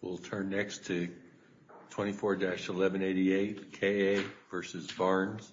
We'll turn next to 24-1188, K. A. v. Barnes.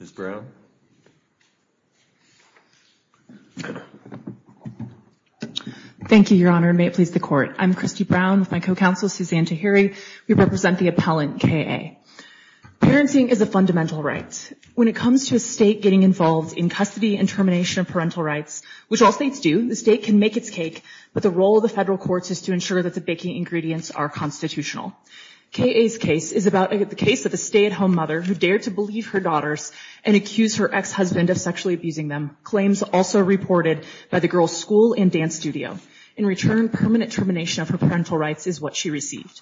Ms. Brown? Thank you, Your Honor, and may it please the Court. I'm Christy Brown with my co-counsel, Suzanne Tahiri. We represent the appellant, K. A. Parenting is a fundamental right. When it comes to a state getting involved in custody and termination of parental rights, which all states do, the state can make its cake, but the role of the federal courts is to ensure that the baking ingredients are constitutional. K. A.'s case is about the case of a stay-at-home mother who dared to believe her daughters and accused her ex-husband of sexually abusing them, claims also reported by the girls' school and dance studio. In return, permanent termination of her parental rights is what she received.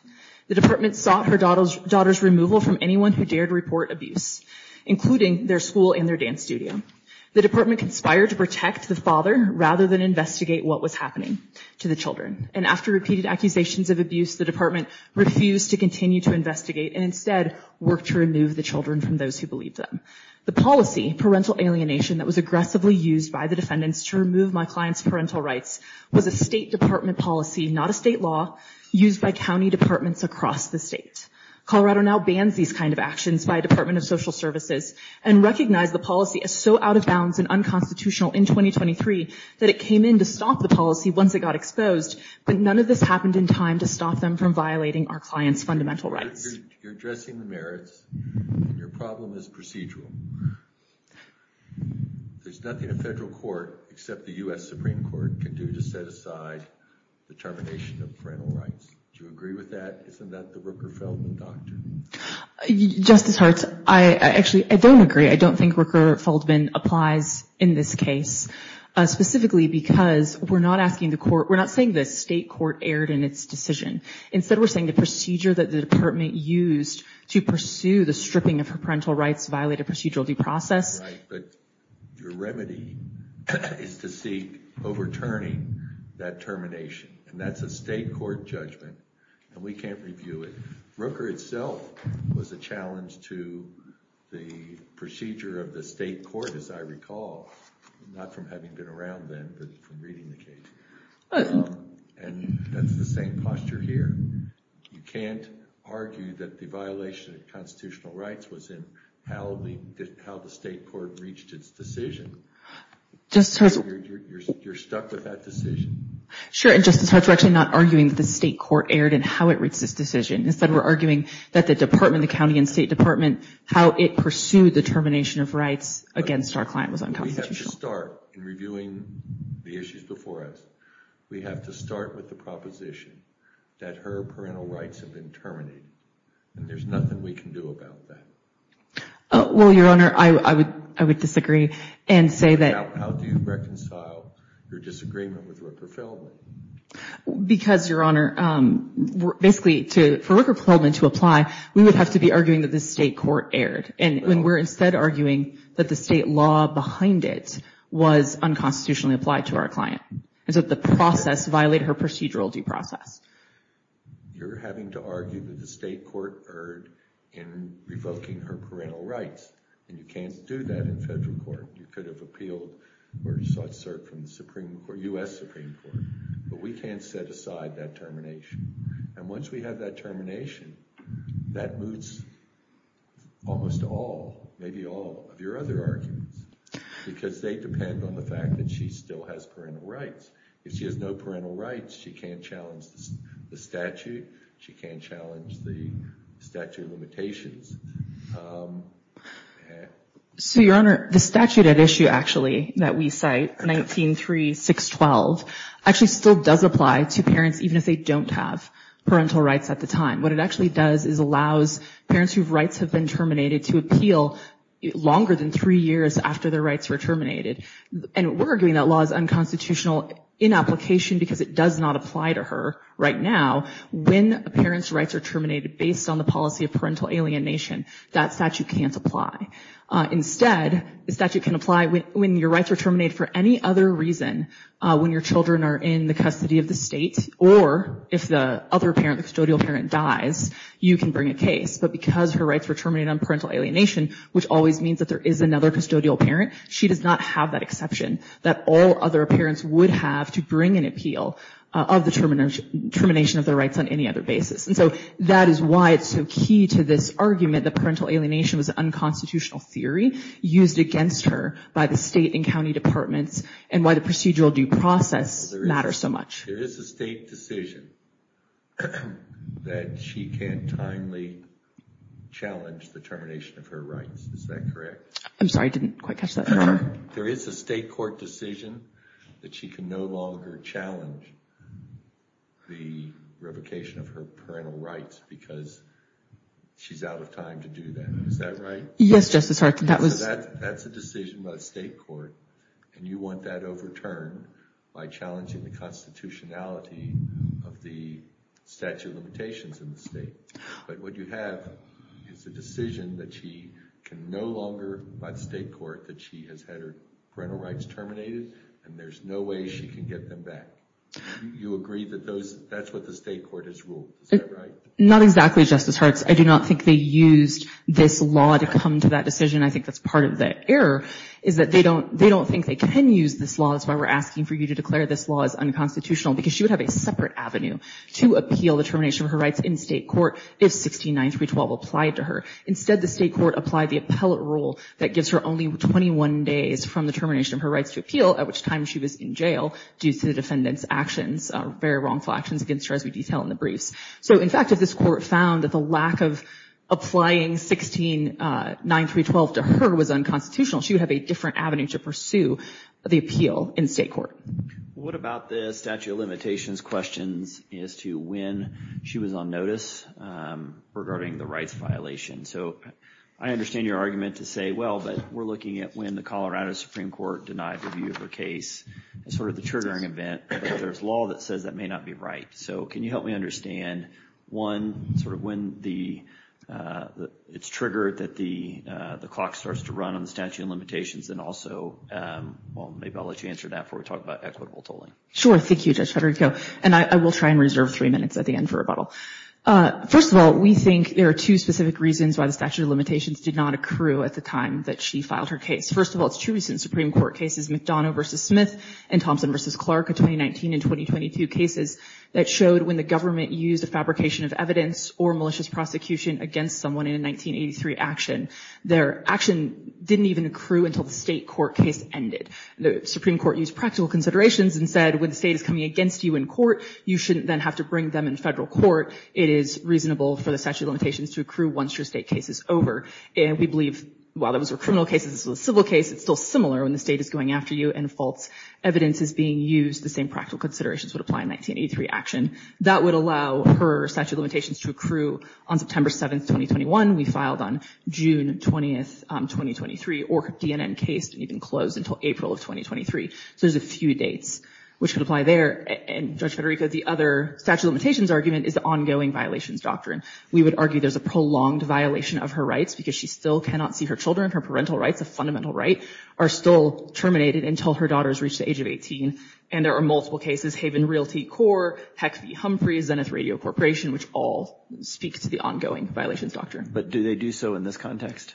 The department sought her daughters' removal from anyone who dared report abuse, including their school and their dance studio. The department conspired to protect the father rather than investigate what was happening to the children, and after repeated accusations of abuse, the department refused to continue to investigate and instead worked to remove the children from those who believed them. The policy, parental alienation, that was aggressively used by the defendants to remove my client's parental rights was a state department policy, not a state law, used by county departments across the state. Colorado now bans these kind of actions by a department of social services and recognized the policy as so out of bounds and unconstitutional in 2023 that it came in to stop the policy once it got exposed, but none of this happened in time to stop them from violating our client's fundamental rights. You're addressing the merits, and your problem is procedural. There's nothing a federal court, except the U.S. Supreme Court, can do to set aside the termination of parental rights. Do you agree with that? Isn't that the Rooker-Feldman doctrine? Justice Hart, I actually don't agree. I don't think Rooker-Feldman applies in this case, specifically because we're not asking the court, we're not saying the state court erred in its decision. Instead, we're saying the procedure that the department used to pursue the stripping of her parental rights violated procedural due process. Right, but your remedy is to seek overturning that termination, and that's a state court judgment, and we can't review it. Rooker itself was a challenge to the procedure of the state court, as I recall, not from having been around then, but from reading the case. And that's the same posture here. You can't argue that the violation of constitutional rights was in how the state court reached its decision. You're stuck with that decision. Sure, and Justice Hart, we're actually not arguing that the state court erred in how it reached its decision. Instead, we're arguing that the department, the county and state department, how it pursued the termination of rights against our client was unconstitutional. We have to start in reviewing the issues before us. We have to start with the proposition that her parental rights have been terminated, and there's nothing we can do about that. Well, Your Honor, I would disagree and say that – How do you reconcile your disagreement with Rooker-Feldman? Because, Your Honor, basically, for Rooker-Feldman to apply, we would have to be arguing that the state court erred, and we're instead arguing that the state law behind it was unconstitutionally applied to our client, and so the process violated her procedural due process. You're having to argue that the state court erred in revoking her parental rights, and you can't do that in federal court. You could have appealed or sought cert from the Supreme Court, U.S. Supreme Court, but we can't set aside that termination. And once we have that termination, that moots almost all, maybe all of your other arguments, because they depend on the fact that she still has parental rights. If she has no parental rights, she can't challenge the statute. She can't challenge the statute of limitations. So, Your Honor, the statute at issue, actually, that we cite, 19-3-6-12, actually still does apply to parents even if they don't have parental rights at the time. What it actually does is allows parents whose rights have been terminated to appeal longer than three years after their rights were terminated. And we're arguing that law is unconstitutional in application because it does not apply to her right now. When a parent's rights are terminated based on the policy of parental alienation, that statute can't apply. Instead, the statute can apply when your rights are terminated for any other reason when your children are in the custody of the state, or if the other parent, the custodial parent, dies, you can bring a case. But because her rights were terminated on parental alienation, which always means that there is another custodial parent, she does not have that exception that all other parents would have to bring an appeal of the termination of their rights on any other basis. And so that is why it's so key to this argument that parental alienation was an unconstitutional theory used against her by the state and county departments and why the procedural due process matters so much. There is a state decision that she can't timely challenge the termination of her rights. Is that correct? I'm sorry, I didn't quite catch that. There is a state court decision that she can no longer challenge the revocation of her parental rights because she's out of time to do that. Is that right? Yes, Justice Hart. That's a decision by the state court, and you want that overturned by challenging the constitutionality of the statute of limitations in the state. But what you have is a decision that she can no longer by the state court that she has had her parental rights terminated, and there's no way she can get them back. You agree that that's what the state court has ruled. Is that right? Not exactly, Justice Hart. I do not think they used this law to come to that decision. I think that's part of the error is that they don't think they can use this law. That's why we're asking for you to declare this law as unconstitutional because she would have a separate avenue to appeal the termination of her rights in state court if 169312 applied to her. Instead, the state court applied the appellate rule that gives her only 21 days from the termination of her rights to appeal, at which time she was in jail due to the defendant's actions, very wrongful actions against her, as we detail in the briefs. So, in fact, if this court found that the lack of applying 169312 to her was unconstitutional, she would have a different avenue to pursue the appeal in state court. What about the statute of limitations questions as to when she was on notice regarding the rights violation? So I understand your argument to say, well, but we're looking at when the Colorado Supreme Court denied review of her case. It's sort of the triggering event. There's law that says that may not be right. So can you help me understand, one, sort of when it's triggered that the clock starts to run on the statute of limitations, and also, well, maybe I'll let you answer that before we talk about equitable tolling. Sure. Thank you, Judge Federico. And I will try and reserve three minutes at the end for rebuttal. First of all, we think there are two specific reasons why the statute of limitations did not accrue at the time that she filed her case. First of all, it's true since Supreme Court cases, McDonough v. Smith and Thompson v. Clark of 2019 and 2022 cases, that showed when the government used a fabrication of evidence or malicious prosecution against someone in a 1983 action, their action didn't even accrue until the state court case ended. The Supreme Court used practical considerations and said, when the state is coming against you in court, you shouldn't then have to bring them in federal court. It is reasonable for the statute of limitations to accrue once your state case is over. And we believe, while those were criminal cases, this was a civil case. It's still similar when the state is going after you and false evidence is being used. The same practical considerations would apply in 1983 action. That would allow her statute of limitations to accrue on September 7th, 2021. We filed on June 20th, 2023. Or her DNN case didn't even close until April of 2023. So there's a few dates which could apply there. And, Judge Federico, the other statute of limitations argument is the ongoing violations doctrine. We would argue there's a prolonged violation of her rights because she still cannot see her children, her parental rights, a fundamental right, are still terminated until her daughter has reached the age of 18. And there are multiple cases, Haven Realty Corp., Peck v. Humphreys, Zenith Radio Corporation, which all speak to the ongoing violations doctrine. But do they do so in this context?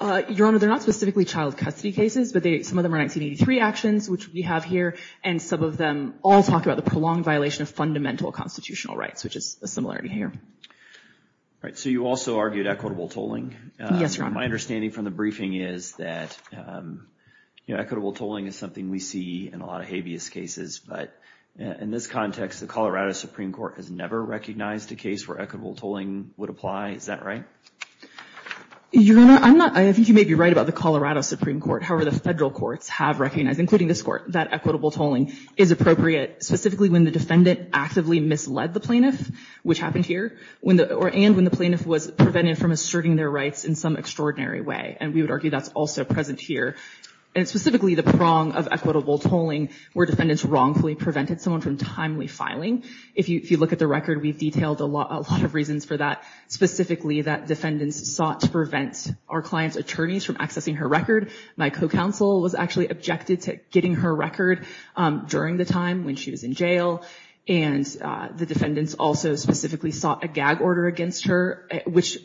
Your Honor, they're not specifically child custody cases, but some of them are 1983 actions, which we have here. And some of them all talk about the prolonged violation of fundamental constitutional rights, which is a similarity here. All right. So you also argued equitable tolling. Yes, Your Honor. My understanding from the briefing is that, you know, equitable tolling is something we see in a lot of habeas cases. But in this context, the Colorado Supreme Court has never recognized a case where equitable tolling would apply. Is that right? Your Honor, I'm not, I think you may be right about the Colorado Supreme Court. However, the federal courts have recognized, including this court, that equitable tolling is appropriate, specifically when the defendant actively misled the plaintiff, which happened here, and when the plaintiff was prevented from asserting their rights in some extraordinary way. And we would argue that's also present here. And specifically, the prong of equitable tolling where defendants wrongfully prevented someone from timely filing. If you look at the record, we've detailed a lot of reasons for that, specifically that defendants sought to prevent our client's attorneys from accessing her record. My co-counsel was actually objected to getting her record during the time when she was in jail. And the defendants also specifically sought a gag order against her, which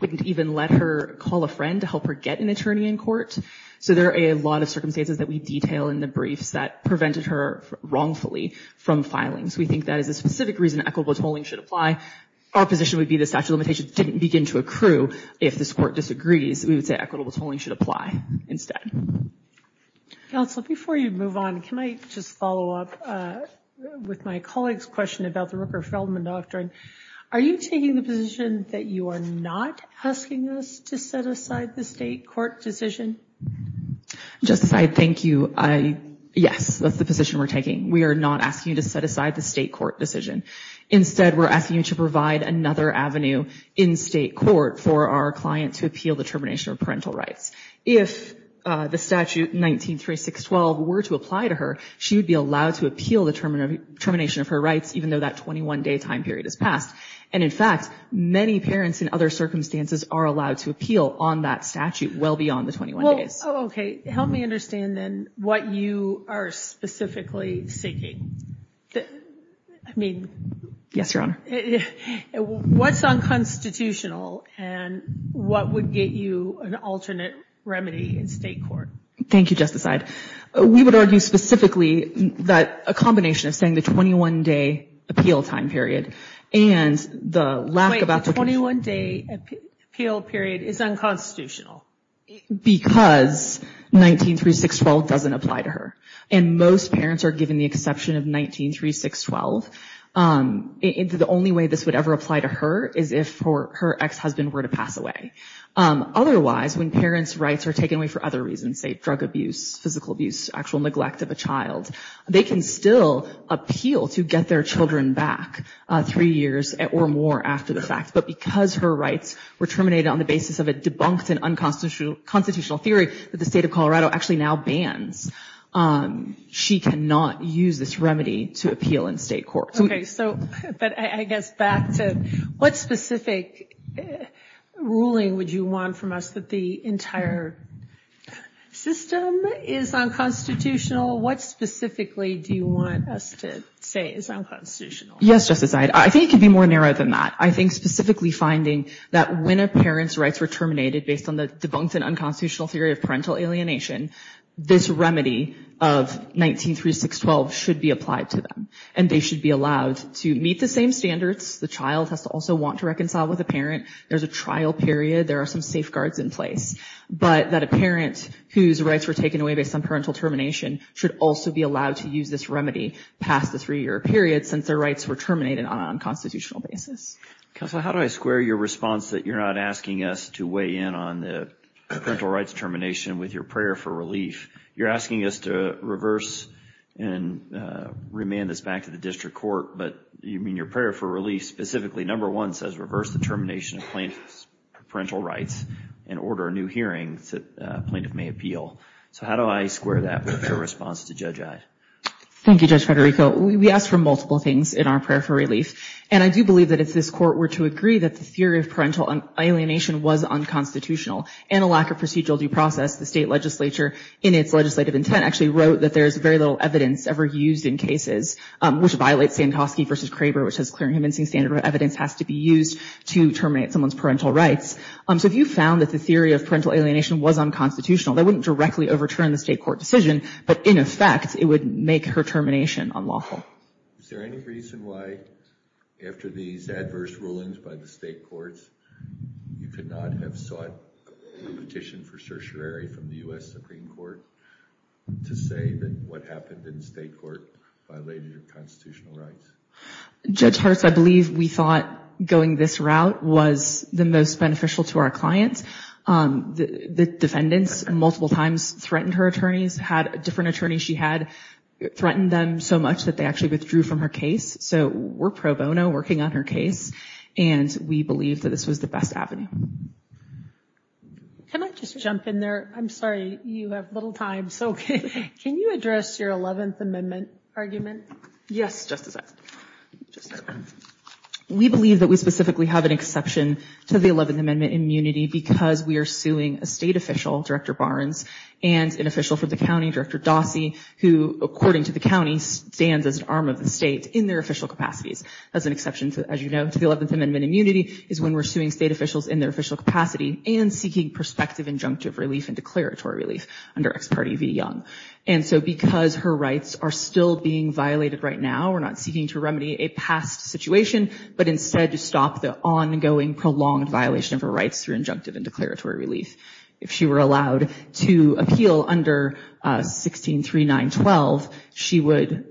wouldn't even let her call a friend to help her get an attorney in court. So there are a lot of circumstances that we detail in the briefs that prevented her wrongfully from filing. We think that is a specific reason equitable tolling should apply. Our position would be the statute of limitations didn't begin to accrue. If this court disagrees, we would say equitable tolling should apply instead. Counsel, before you move on, can I just follow up with my colleague's question about the Rooker-Feldman doctrine? Are you taking the position that you are not asking us to set aside the state court decision? Justice, I thank you. Yes, that's the position we're taking. We are not asking you to set aside the state court decision. Instead, we're asking you to provide another avenue in state court for our client to appeal the termination of parental rights. If the statute 193612 were to apply to her, she would be allowed to appeal the termination of her rights, even though that 21-day time period has passed. And, in fact, many parents in other circumstances are allowed to appeal on that statute well beyond the 21 days. Oh, okay. Help me understand, then, what you are specifically seeking. I mean... Yes, Your Honor. What's unconstitutional and what would get you an alternate remedy in state court? Thank you, Justice Ide. We would argue specifically that a combination of saying the 21-day appeal time period and the lack of application... Wait, the 21-day appeal period is unconstitutional? Because 193612 doesn't apply to her. And most parents are given the exception of 193612. The only way this would ever apply to her is if her ex-husband were to pass away. Otherwise, when parents' rights are taken away for other reasons, say drug abuse, physical abuse, actual neglect of a child, they can still appeal to get their children back three years or more after the fact. But because her rights were terminated on the basis of a debunked and unconstitutional theory that the state of Colorado actually now bans, she cannot use this remedy to appeal in state court. So, but I guess back to what specific ruling would you want from us that the entire system is unconstitutional? What specifically do you want us to say is unconstitutional? Yes, Justice Ide. I think it could be more narrow than that. I think specifically finding that when a parent's rights were terminated based on the debunked and unconstitutional theory of parental alienation, this remedy of 193612 should be applied to them. And they should be allowed to meet the same standards. The child has to also want to reconcile with the parent. There's a trial period. There are some safeguards in place. But that a parent whose rights were taken away based on parental termination should also be allowed to use this remedy past the three-year period since their rights were terminated on an unconstitutional basis. Counselor, how do I square your response that you're not asking us to weigh in on the parental rights termination with your prayer for relief? You're asking us to reverse and remand this back to the district court. But you mean your prayer for relief specifically. Number one says reverse the termination of plaintiff's parental rights and order a new hearing that plaintiff may appeal. So how do I square that with your response to Judge Ide? Thank you, Judge Federico. We asked for multiple things in our prayer for relief. And I do believe that if this court were to agree that the theory of parental alienation was unconstitutional and a lack of procedural due process, the state legislature, in its legislative intent, actually wrote that there is very little evidence ever used in cases which violates Sankofsky v. Craver, which says clear and convincing standard of evidence has to be used to terminate someone's parental rights. So if you found that the theory of parental alienation was unconstitutional, that wouldn't directly overturn the state court decision. But in effect, it would make her termination unlawful. Is there any reason why, after these adverse rulings by the state courts, you could not have sought a petition for certiorari from the U.S. Supreme Court to say that what happened in the state court violated your constitutional rights? Judge Hurst, I believe we thought going this route was the most beneficial to our clients. The defendants multiple times threatened her attorneys, had different attorneys she had threaten them so much that they actually withdrew from her case. So we're pro bono working on her case. And we believe that this was the best avenue. Can I just jump in there? I'm sorry, you have little time. So can you address your 11th Amendment argument? Yes, Justice. We believe that we specifically have an exception to the 11th Amendment immunity because we are suing a state official, Director Barnes, and an official from the county, Director Dawsey, who according to the county stands as an arm of the state in their official capacities. That's an exception, as you know, to the 11th Amendment. Immunity is when we're suing state officials in their official capacity and seeking prospective injunctive relief and declaratory relief under Ex parte v. Young. And so because her rights are still being violated right now, we're not seeking to remedy a past situation, but instead to stop the ongoing prolonged violation of her rights through injunctive and declaratory relief. If she were allowed to appeal under 163912, she would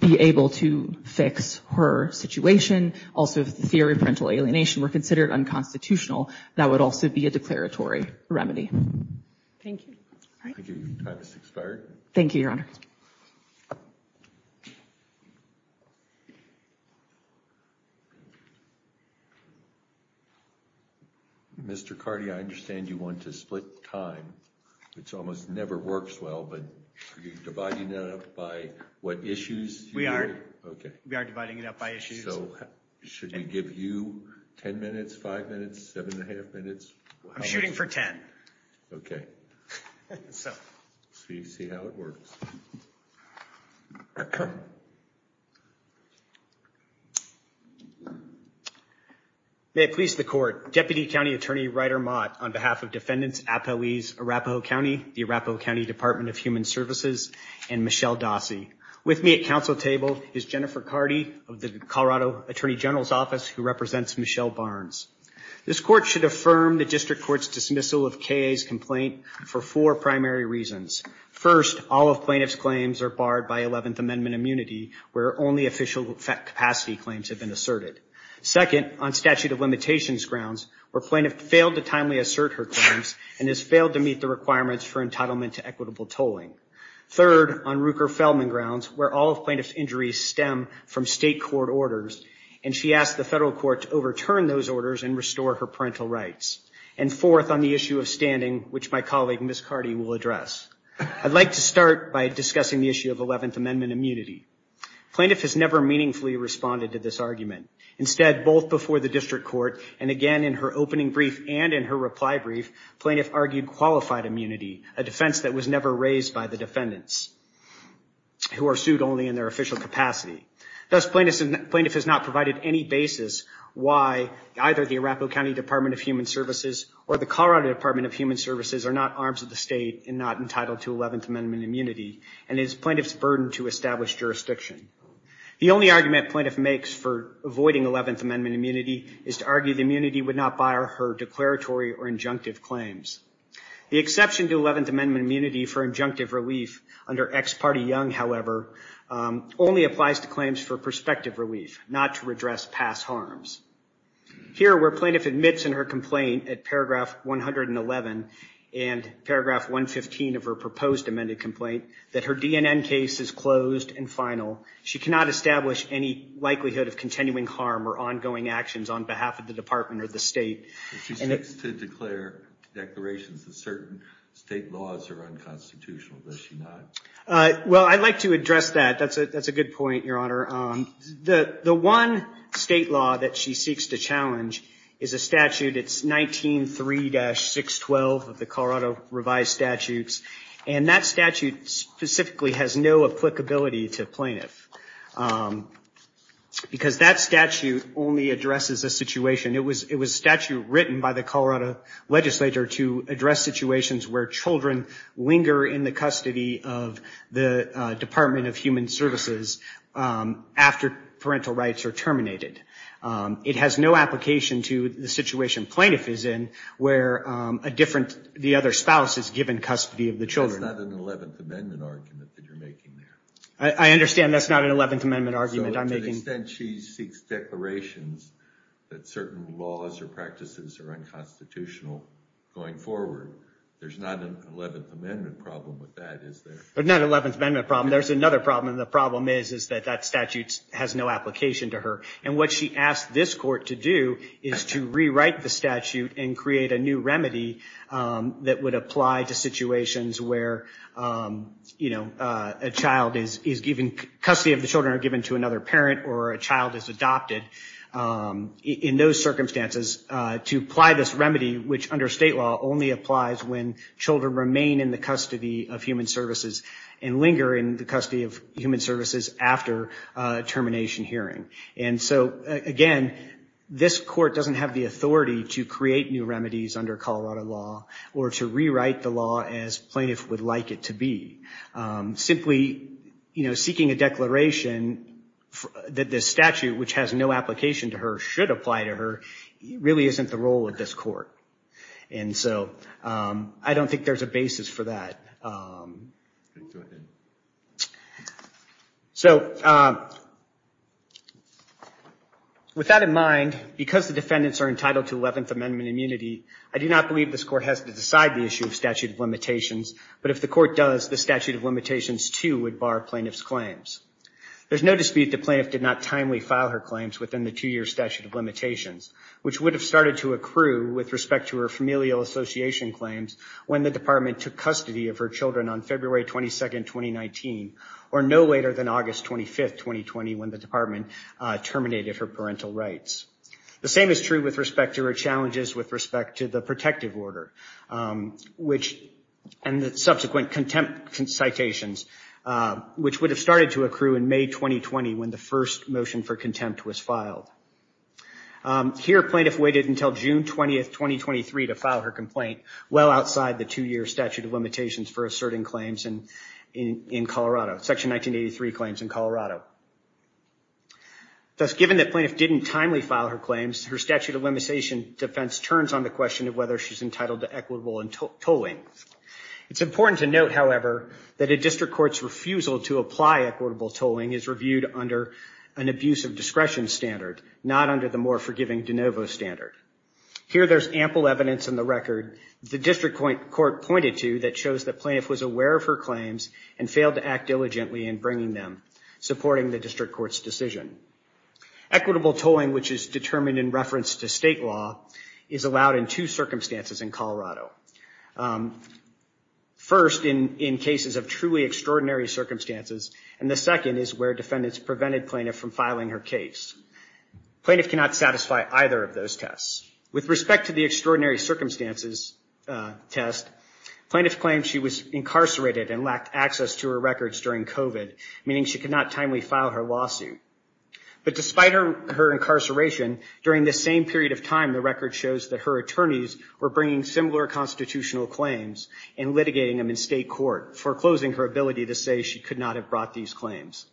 be able to fix her situation. Also, if the theory of parental alienation were considered unconstitutional, that would also be a declaratory remedy. Thank you. Thank you. Your time has expired. Thank you, Your Honor. Mr. Carty, I understand you want to split time. It almost never works well, but are you dividing that up by what issues? We are. Okay. We are dividing it up by issues. So should we give you ten minutes, five minutes, seven and a half minutes? I'm shooting for ten. Okay. So you see how it works. Okay. May it please the Court, Deputy County Attorney Ryder Mott, on behalf of Defendants, Apoese, Arapahoe County, the Arapahoe County Department of Human Services, and Michelle Dossey. With me at council table is Jennifer Carty of the Colorado Attorney General's Office, who represents Michelle Barnes. This court should affirm the district court's dismissal of K.A.'s complaint for four primary reasons. First, all of plaintiff's claims are barred by 11th Amendment immunity, where only official capacity claims have been asserted. Second, on statute of limitations grounds, where plaintiff failed to timely assert her claims and has failed to meet the requirements for entitlement to equitable tolling. Third, on Ruker-Feldman grounds, where all of plaintiff's injuries stem from state court orders, and she asked the federal court to overturn those orders and restore her parental rights. And fourth, on the issue of standing, which my colleague, Ms. Carty, will address. I'd like to start by discussing the issue of 11th Amendment immunity. Plaintiff has never meaningfully responded to this argument. Instead, both before the district court and again in her opening brief and in her reply brief, plaintiff argued qualified immunity, a defense that was never raised by the defendants, who are sued only in their official capacity. Thus, plaintiff has not provided any basis why either the Arapahoe County Department of Human Services or the Colorado Department of Human Services are not arms of the state and not entitled to 11th Amendment immunity, and it is plaintiff's burden to establish jurisdiction. The only argument plaintiff makes for avoiding 11th Amendment immunity is to argue the immunity would not bar her declaratory or injunctive claims. The exception to 11th Amendment immunity for injunctive relief under ex parte young, however, only applies to claims for prospective relief, not to redress past harms. Here, where plaintiff admits in her complaint at paragraph 111 and paragraph 115 of her proposed amended complaint that her DNN case is closed and final, she cannot establish any likelihood of continuing harm or ongoing actions on behalf of the department or the state. She seeks to declare declarations that certain state laws are unconstitutional, does she not? Well, I'd like to address that. That's a good point, Your Honor. The one state law that she seeks to challenge is a statute. It's 19-3-612 of the Colorado revised statutes, and that statute specifically has no applicability to plaintiff because that statute only addresses a situation. It was a statute written by the Colorado legislature to address situations where children linger in the custody of the Department of Human Services after parental rights are terminated. It has no application to the situation plaintiff is in where the other spouse is given custody of the children. That's not an 11th Amendment argument that you're making there. I understand that's not an 11th Amendment argument I'm making. To the extent she seeks declarations that certain laws or practices are unconstitutional going forward, there's not an 11th Amendment problem with that, is there? There's not an 11th Amendment problem. There's another problem, and the problem is that that statute has no application to her. And what she asked this court to do is to rewrite the statute and create a new remedy that would apply to situations where custody of the children are given to another parent or a child is adopted. In those circumstances, to apply this remedy, which under state law only applies when children remain in the custody of Human Services and linger in the custody of Human Services after termination hearing. And so, again, this court doesn't have the authority to create new remedies under Colorado law or to rewrite the law as plaintiff would like it to be. Simply seeking a declaration that this statute, which has no application to her, should apply to her, really isn't the role of this court. And so I don't think there's a basis for that. Go ahead. So with that in mind, because the defendants are entitled to 11th Amendment immunity, I do not believe this court has to decide the issue of statute of limitations. But if the court does, the statute of limitations, too, would bar plaintiff's claims. There's no dispute the plaintiff did not timely file her claims within the two-year statute of limitations, which would have started to accrue with respect to her familial association claims when the department took custody of her children on February 22nd, 2019, or no later than August 25th, 2020, when the department terminated her parental rights. The same is true with respect to her challenges with respect to the protective order, and the subsequent contempt citations, which would have started to accrue in May 2020 when the first motion for contempt was filed. Here, plaintiff waited until June 20th, 2023 to file her complaint, well outside the two-year statute of limitations for asserting claims in Colorado, Section 1983 claims in Colorado. Thus, given that plaintiff didn't timely file her claims, her statute of limitation defense turns on the question of whether she's entitled to equitable tolling. It's important to note, however, that a district court's refusal to apply equitable tolling is reviewed under an abuse of discretion standard, not under the more forgiving de novo standard. Here, there's ample evidence in the record the district court pointed to that shows that plaintiff was aware of her claims and failed to act diligently in bringing them, supporting the district court's decision. Equitable tolling, which is determined in reference to state law, is allowed in two circumstances in Colorado. First, in cases of truly extraordinary circumstances, and the second is where defendants prevented plaintiff from filing her case. Plaintiff cannot satisfy either of those tests. With respect to the extraordinary circumstances test, plaintiff claimed she was incarcerated and lacked access to her records during COVID, meaning she could not timely file her lawsuit. But despite her incarceration, during this same period of time, the record shows that her attorneys were bringing similar constitutional claims and litigating them in state court, foreclosing her ability to say she could not have brought these claims.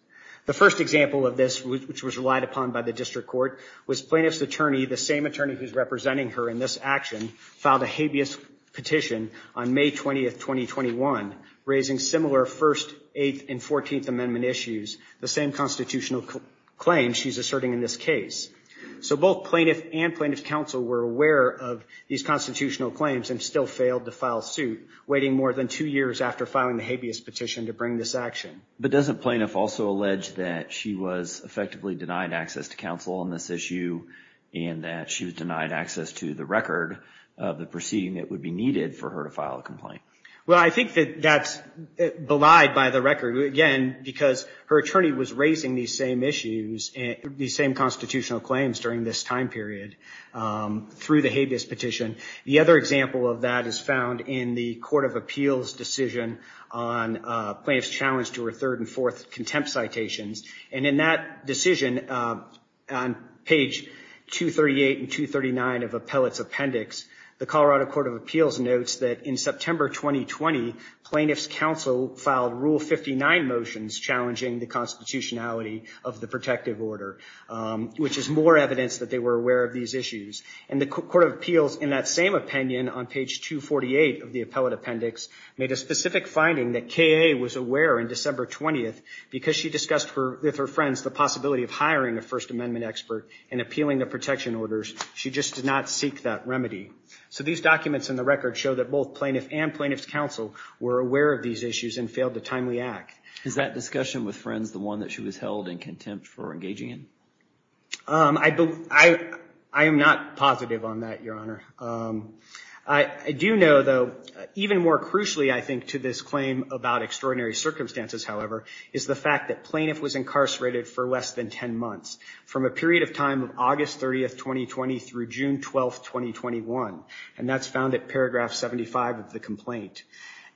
The first example of this, which was relied upon by the district court, was plaintiff's attorney, the same attorney who's representing her in this action, filed a habeas petition on May 20th, 2021, raising similar First, Eighth, and Fourteenth Amendment issues, the same constitutional claims she's asserting in this case. So both plaintiff and plaintiff's counsel were aware of these constitutional claims and still failed to file suit, waiting more than two years after filing the habeas petition to bring this action. But doesn't plaintiff also allege that she was effectively denied access to counsel on this issue and that she was denied access to the record of the proceeding that would be needed for her to file a complaint? Well, I think that that's belied by the record, again, because her attorney was raising these same issues, the same constitutional claims during this time period through the habeas petition. The other example of that is found in the Court of Appeals decision on plaintiff's challenge to her third and fourth contempt citations. And in that decision, on page 238 and 239 of appellate's appendix, the Colorado Court of Appeals notes that in September 2020, plaintiff's counsel filed Rule 59 motions challenging the constitutionality of the protective order, which is more evidence that they were aware of these issues. And the Court of Appeals, in that same opinion on page 248 of the appellate appendix, made a specific finding that K.A. was aware in December 20th because she discussed with her friends the possibility of hiring a First Amendment expert and appealing the protection orders. She just did not seek that remedy. So these documents in the record show that both plaintiff and plaintiff's counsel were aware of these issues and failed to timely act. Is that discussion with friends the one that she was held in contempt for engaging in? I am not positive on that, Your Honor. I do know, though, even more crucially, I think, to this claim about extraordinary circumstances, however, is the fact that plaintiff was incarcerated for less than 10 months, from a period of time of August 30th, 2020, through June 12th, 2021. And that's found at paragraph 75 of the complaint.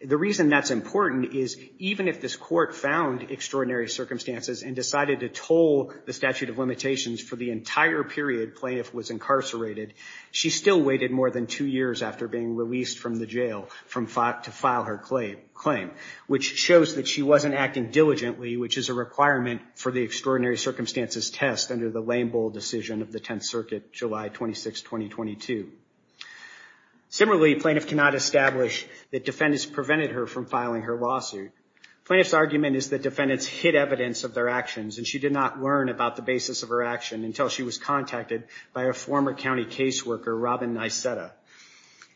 The reason that's important is even if this court found extraordinary circumstances and decided to toll the statute of limitations for the entire period plaintiff was incarcerated, she still waited more than two years after being released from the jail to file her claim, which shows that she wasn't acting diligently, which is a requirement for the extraordinary circumstances test under the lame bull decision of the 10th Circuit, July 26, 2022. Similarly, plaintiff cannot establish that defendants prevented her from filing her lawsuit. Plaintiff's argument is that defendants hid evidence of their actions, and she did not learn about the basis of her action until she was contacted by a former county caseworker, Robin Nyseta.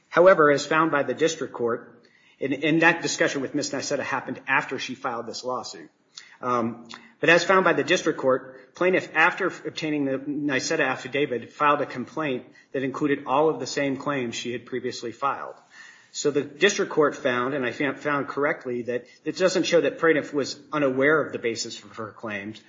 However, as found by the district court, and that discussion with Ms. Nyseta happened after she filed this lawsuit. But as found by the district court, plaintiff, after obtaining the Nyseta affidavit, filed a complaint that included all of the same claims she had previously filed. So the district court found, and I found correctly, that it doesn't show that plaintiff was unaware of the basis of her claims.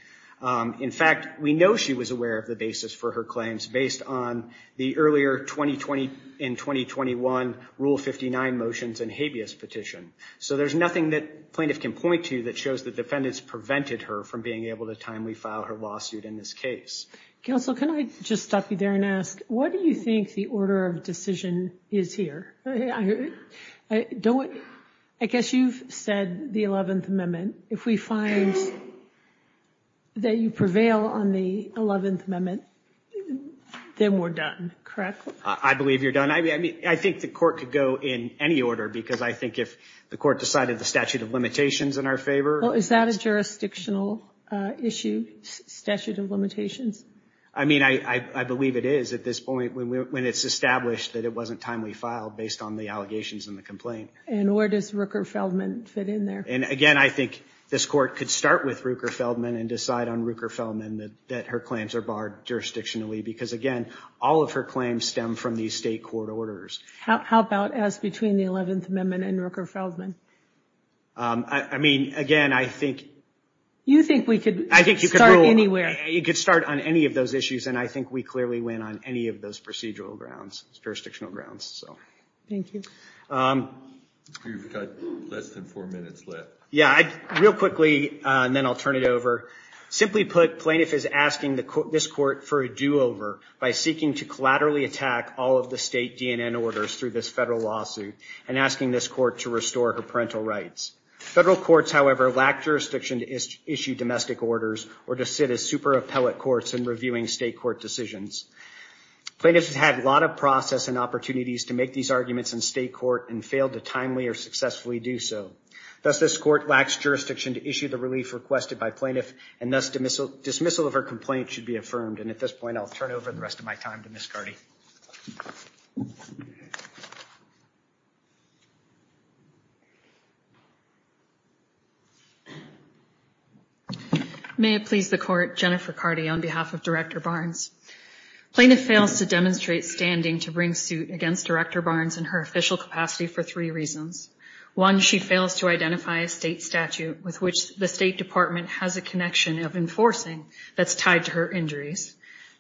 In fact, we know she was aware of the basis for her claims based on the earlier 2020 and 2021 Rule 59 motions and habeas petition. So there's nothing that plaintiff can point to that shows that defendants prevented her from being able to timely file her lawsuit in this case. Counsel, can I just stop you there and ask, what do you think the order of decision is here? I guess you've said the 11th Amendment. If we find that you prevail on the 11th Amendment, then we're done, correct? I believe you're done. I mean, I think the court could go in any order because I think if the court decided the statute of limitations in our favor. Is that a jurisdictional issue, statute of limitations? I mean, I believe it is at this point when it's established that it wasn't timely filed based on the allegations in the complaint. And where does Rooker-Feldman fit in there? And again, I think this court could start with Rooker-Feldman and decide on Rooker-Feldman that her claims are barred jurisdictionally. Because again, all of her claims stem from these state court orders. How about as between the 11th Amendment and Rooker-Feldman? I mean, again, I think... You think we could start anywhere. You could start on any of those issues, and I think we clearly win on any of those procedural grounds, jurisdictional grounds. Thank you. You've got less than four minutes left. Yeah, real quickly, and then I'll turn it over. Simply put, plaintiff is asking this court for a do-over by seeking to collaterally attack all of the state DNN orders through this federal lawsuit and asking this court to restore her parental rights. Federal courts, however, lack jurisdiction to issue domestic orders or to sit as super appellate courts in reviewing state court decisions. Plaintiff has had a lot of process and opportunities to make these arguments in state court and failed to timely or successfully do so. Thus, this court lacks jurisdiction to issue the relief requested by plaintiff, and thus dismissal of her complaint should be affirmed. And at this point, I'll turn over the rest of my time to Ms. Carty. May it please the court, Jennifer Carty on behalf of Director Barnes. Plaintiff fails to demonstrate standing to bring suit against Director Barnes in her official capacity for three reasons. One, she fails to identify a state statute with which the State Department has a connection of enforcing that's tied to her injuries.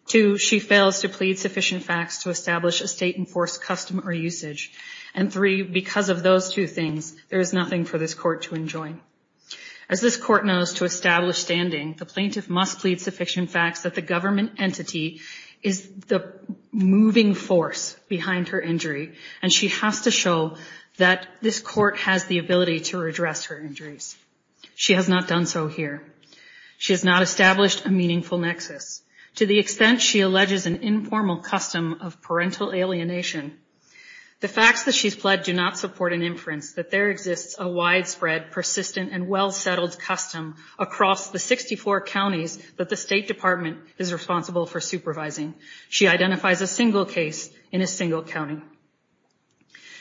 Two, she fails to plead sufficient facts to establish a state-enforced custom or usage. And three, because of those two things, there is nothing for this court to enjoin. As this court knows, to establish standing, the plaintiff must plead sufficient facts that the government entity is the moving force behind her injury. And she has to show that this court has the ability to redress her injuries. She has not done so here. She has not established a meaningful nexus. To the extent she alleges an informal custom of parental alienation, the facts that she's pled do not support an inference that there exists a widespread, persistent, and well-settled custom across the 64 counties that the State Department is responsible for supervising. She identifies a single case in a single county.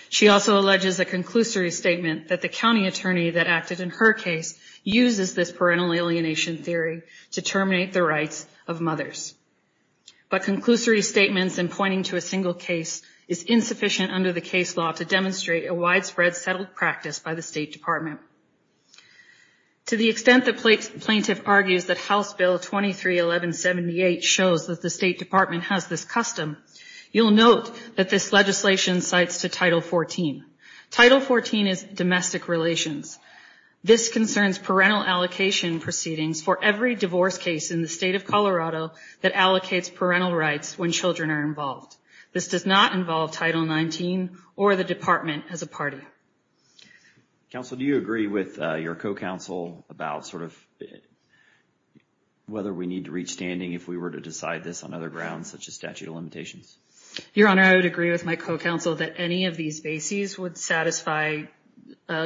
She also alleges a conclusory statement that the county attorney that acted in her case uses this parental alienation theory to terminate the rights of mothers. But conclusory statements and pointing to a single case is insufficient under the case law to demonstrate a widespread, settled practice by the State Department. To the extent the plaintiff argues that House Bill 23-1178 shows that the State Department has this custom, you'll note that this legislation cites to Title 14. Title 14 is domestic relations. This concerns parental allocation proceedings for every divorce case in the state of Colorado that allocates parental rights when children are involved. This does not involve Title 19 or the Department as a party. Counsel, do you agree with your co-counsel about sort of whether we need to reach standing if we were to decide this on other grounds such as statute of limitations? Your Honor, I would agree with my co-counsel that any of these bases would satisfy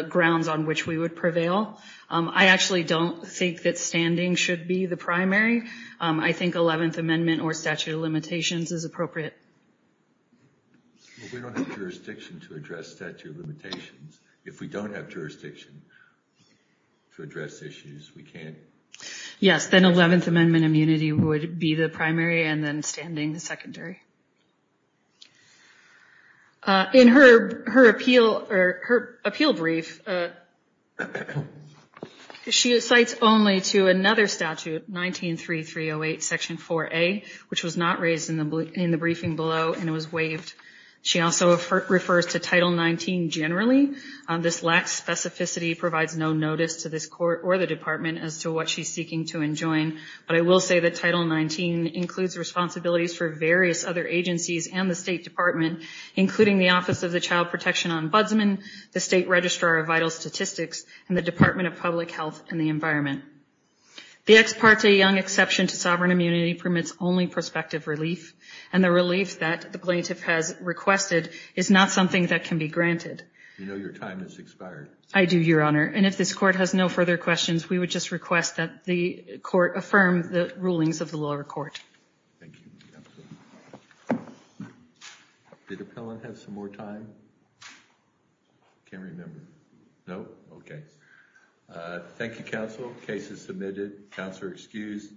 grounds on which we would prevail. I actually don't think that standing should be the primary. I think 11th Amendment or statute of limitations is appropriate. We don't have jurisdiction to address statute of limitations. If we don't have jurisdiction to address issues, we can't. Yes, then 11th Amendment immunity would be the primary and then standing the secondary. In her appeal brief, she cites only to another statute, 19-3308, Section 4A, which was not raised in the briefing below and was waived. She also refers to Title 19 generally. This lacks specificity, provides no notice to this court or the Department as to what she's seeking to enjoin. But I will say that Title 19 includes responsibilities for various other agencies and the State Department, including the Office of the Child Protection Ombudsman, the State Registrar of Vital Statistics, and the Department of Public Health and the Environment. The ex parte Young exception to sovereign immunity permits only prospective relief. And the relief that the plaintiff has requested is not something that can be granted. You know your time has expired. I do, Your Honor. And if this court has no further questions, we would just request that the court affirm the rulings of the lower court. Thank you, Your Honor. Did Appellant have some more time? I can't remember. No? Okay. Thank you, Counsel. Case is submitted. Counselor excused.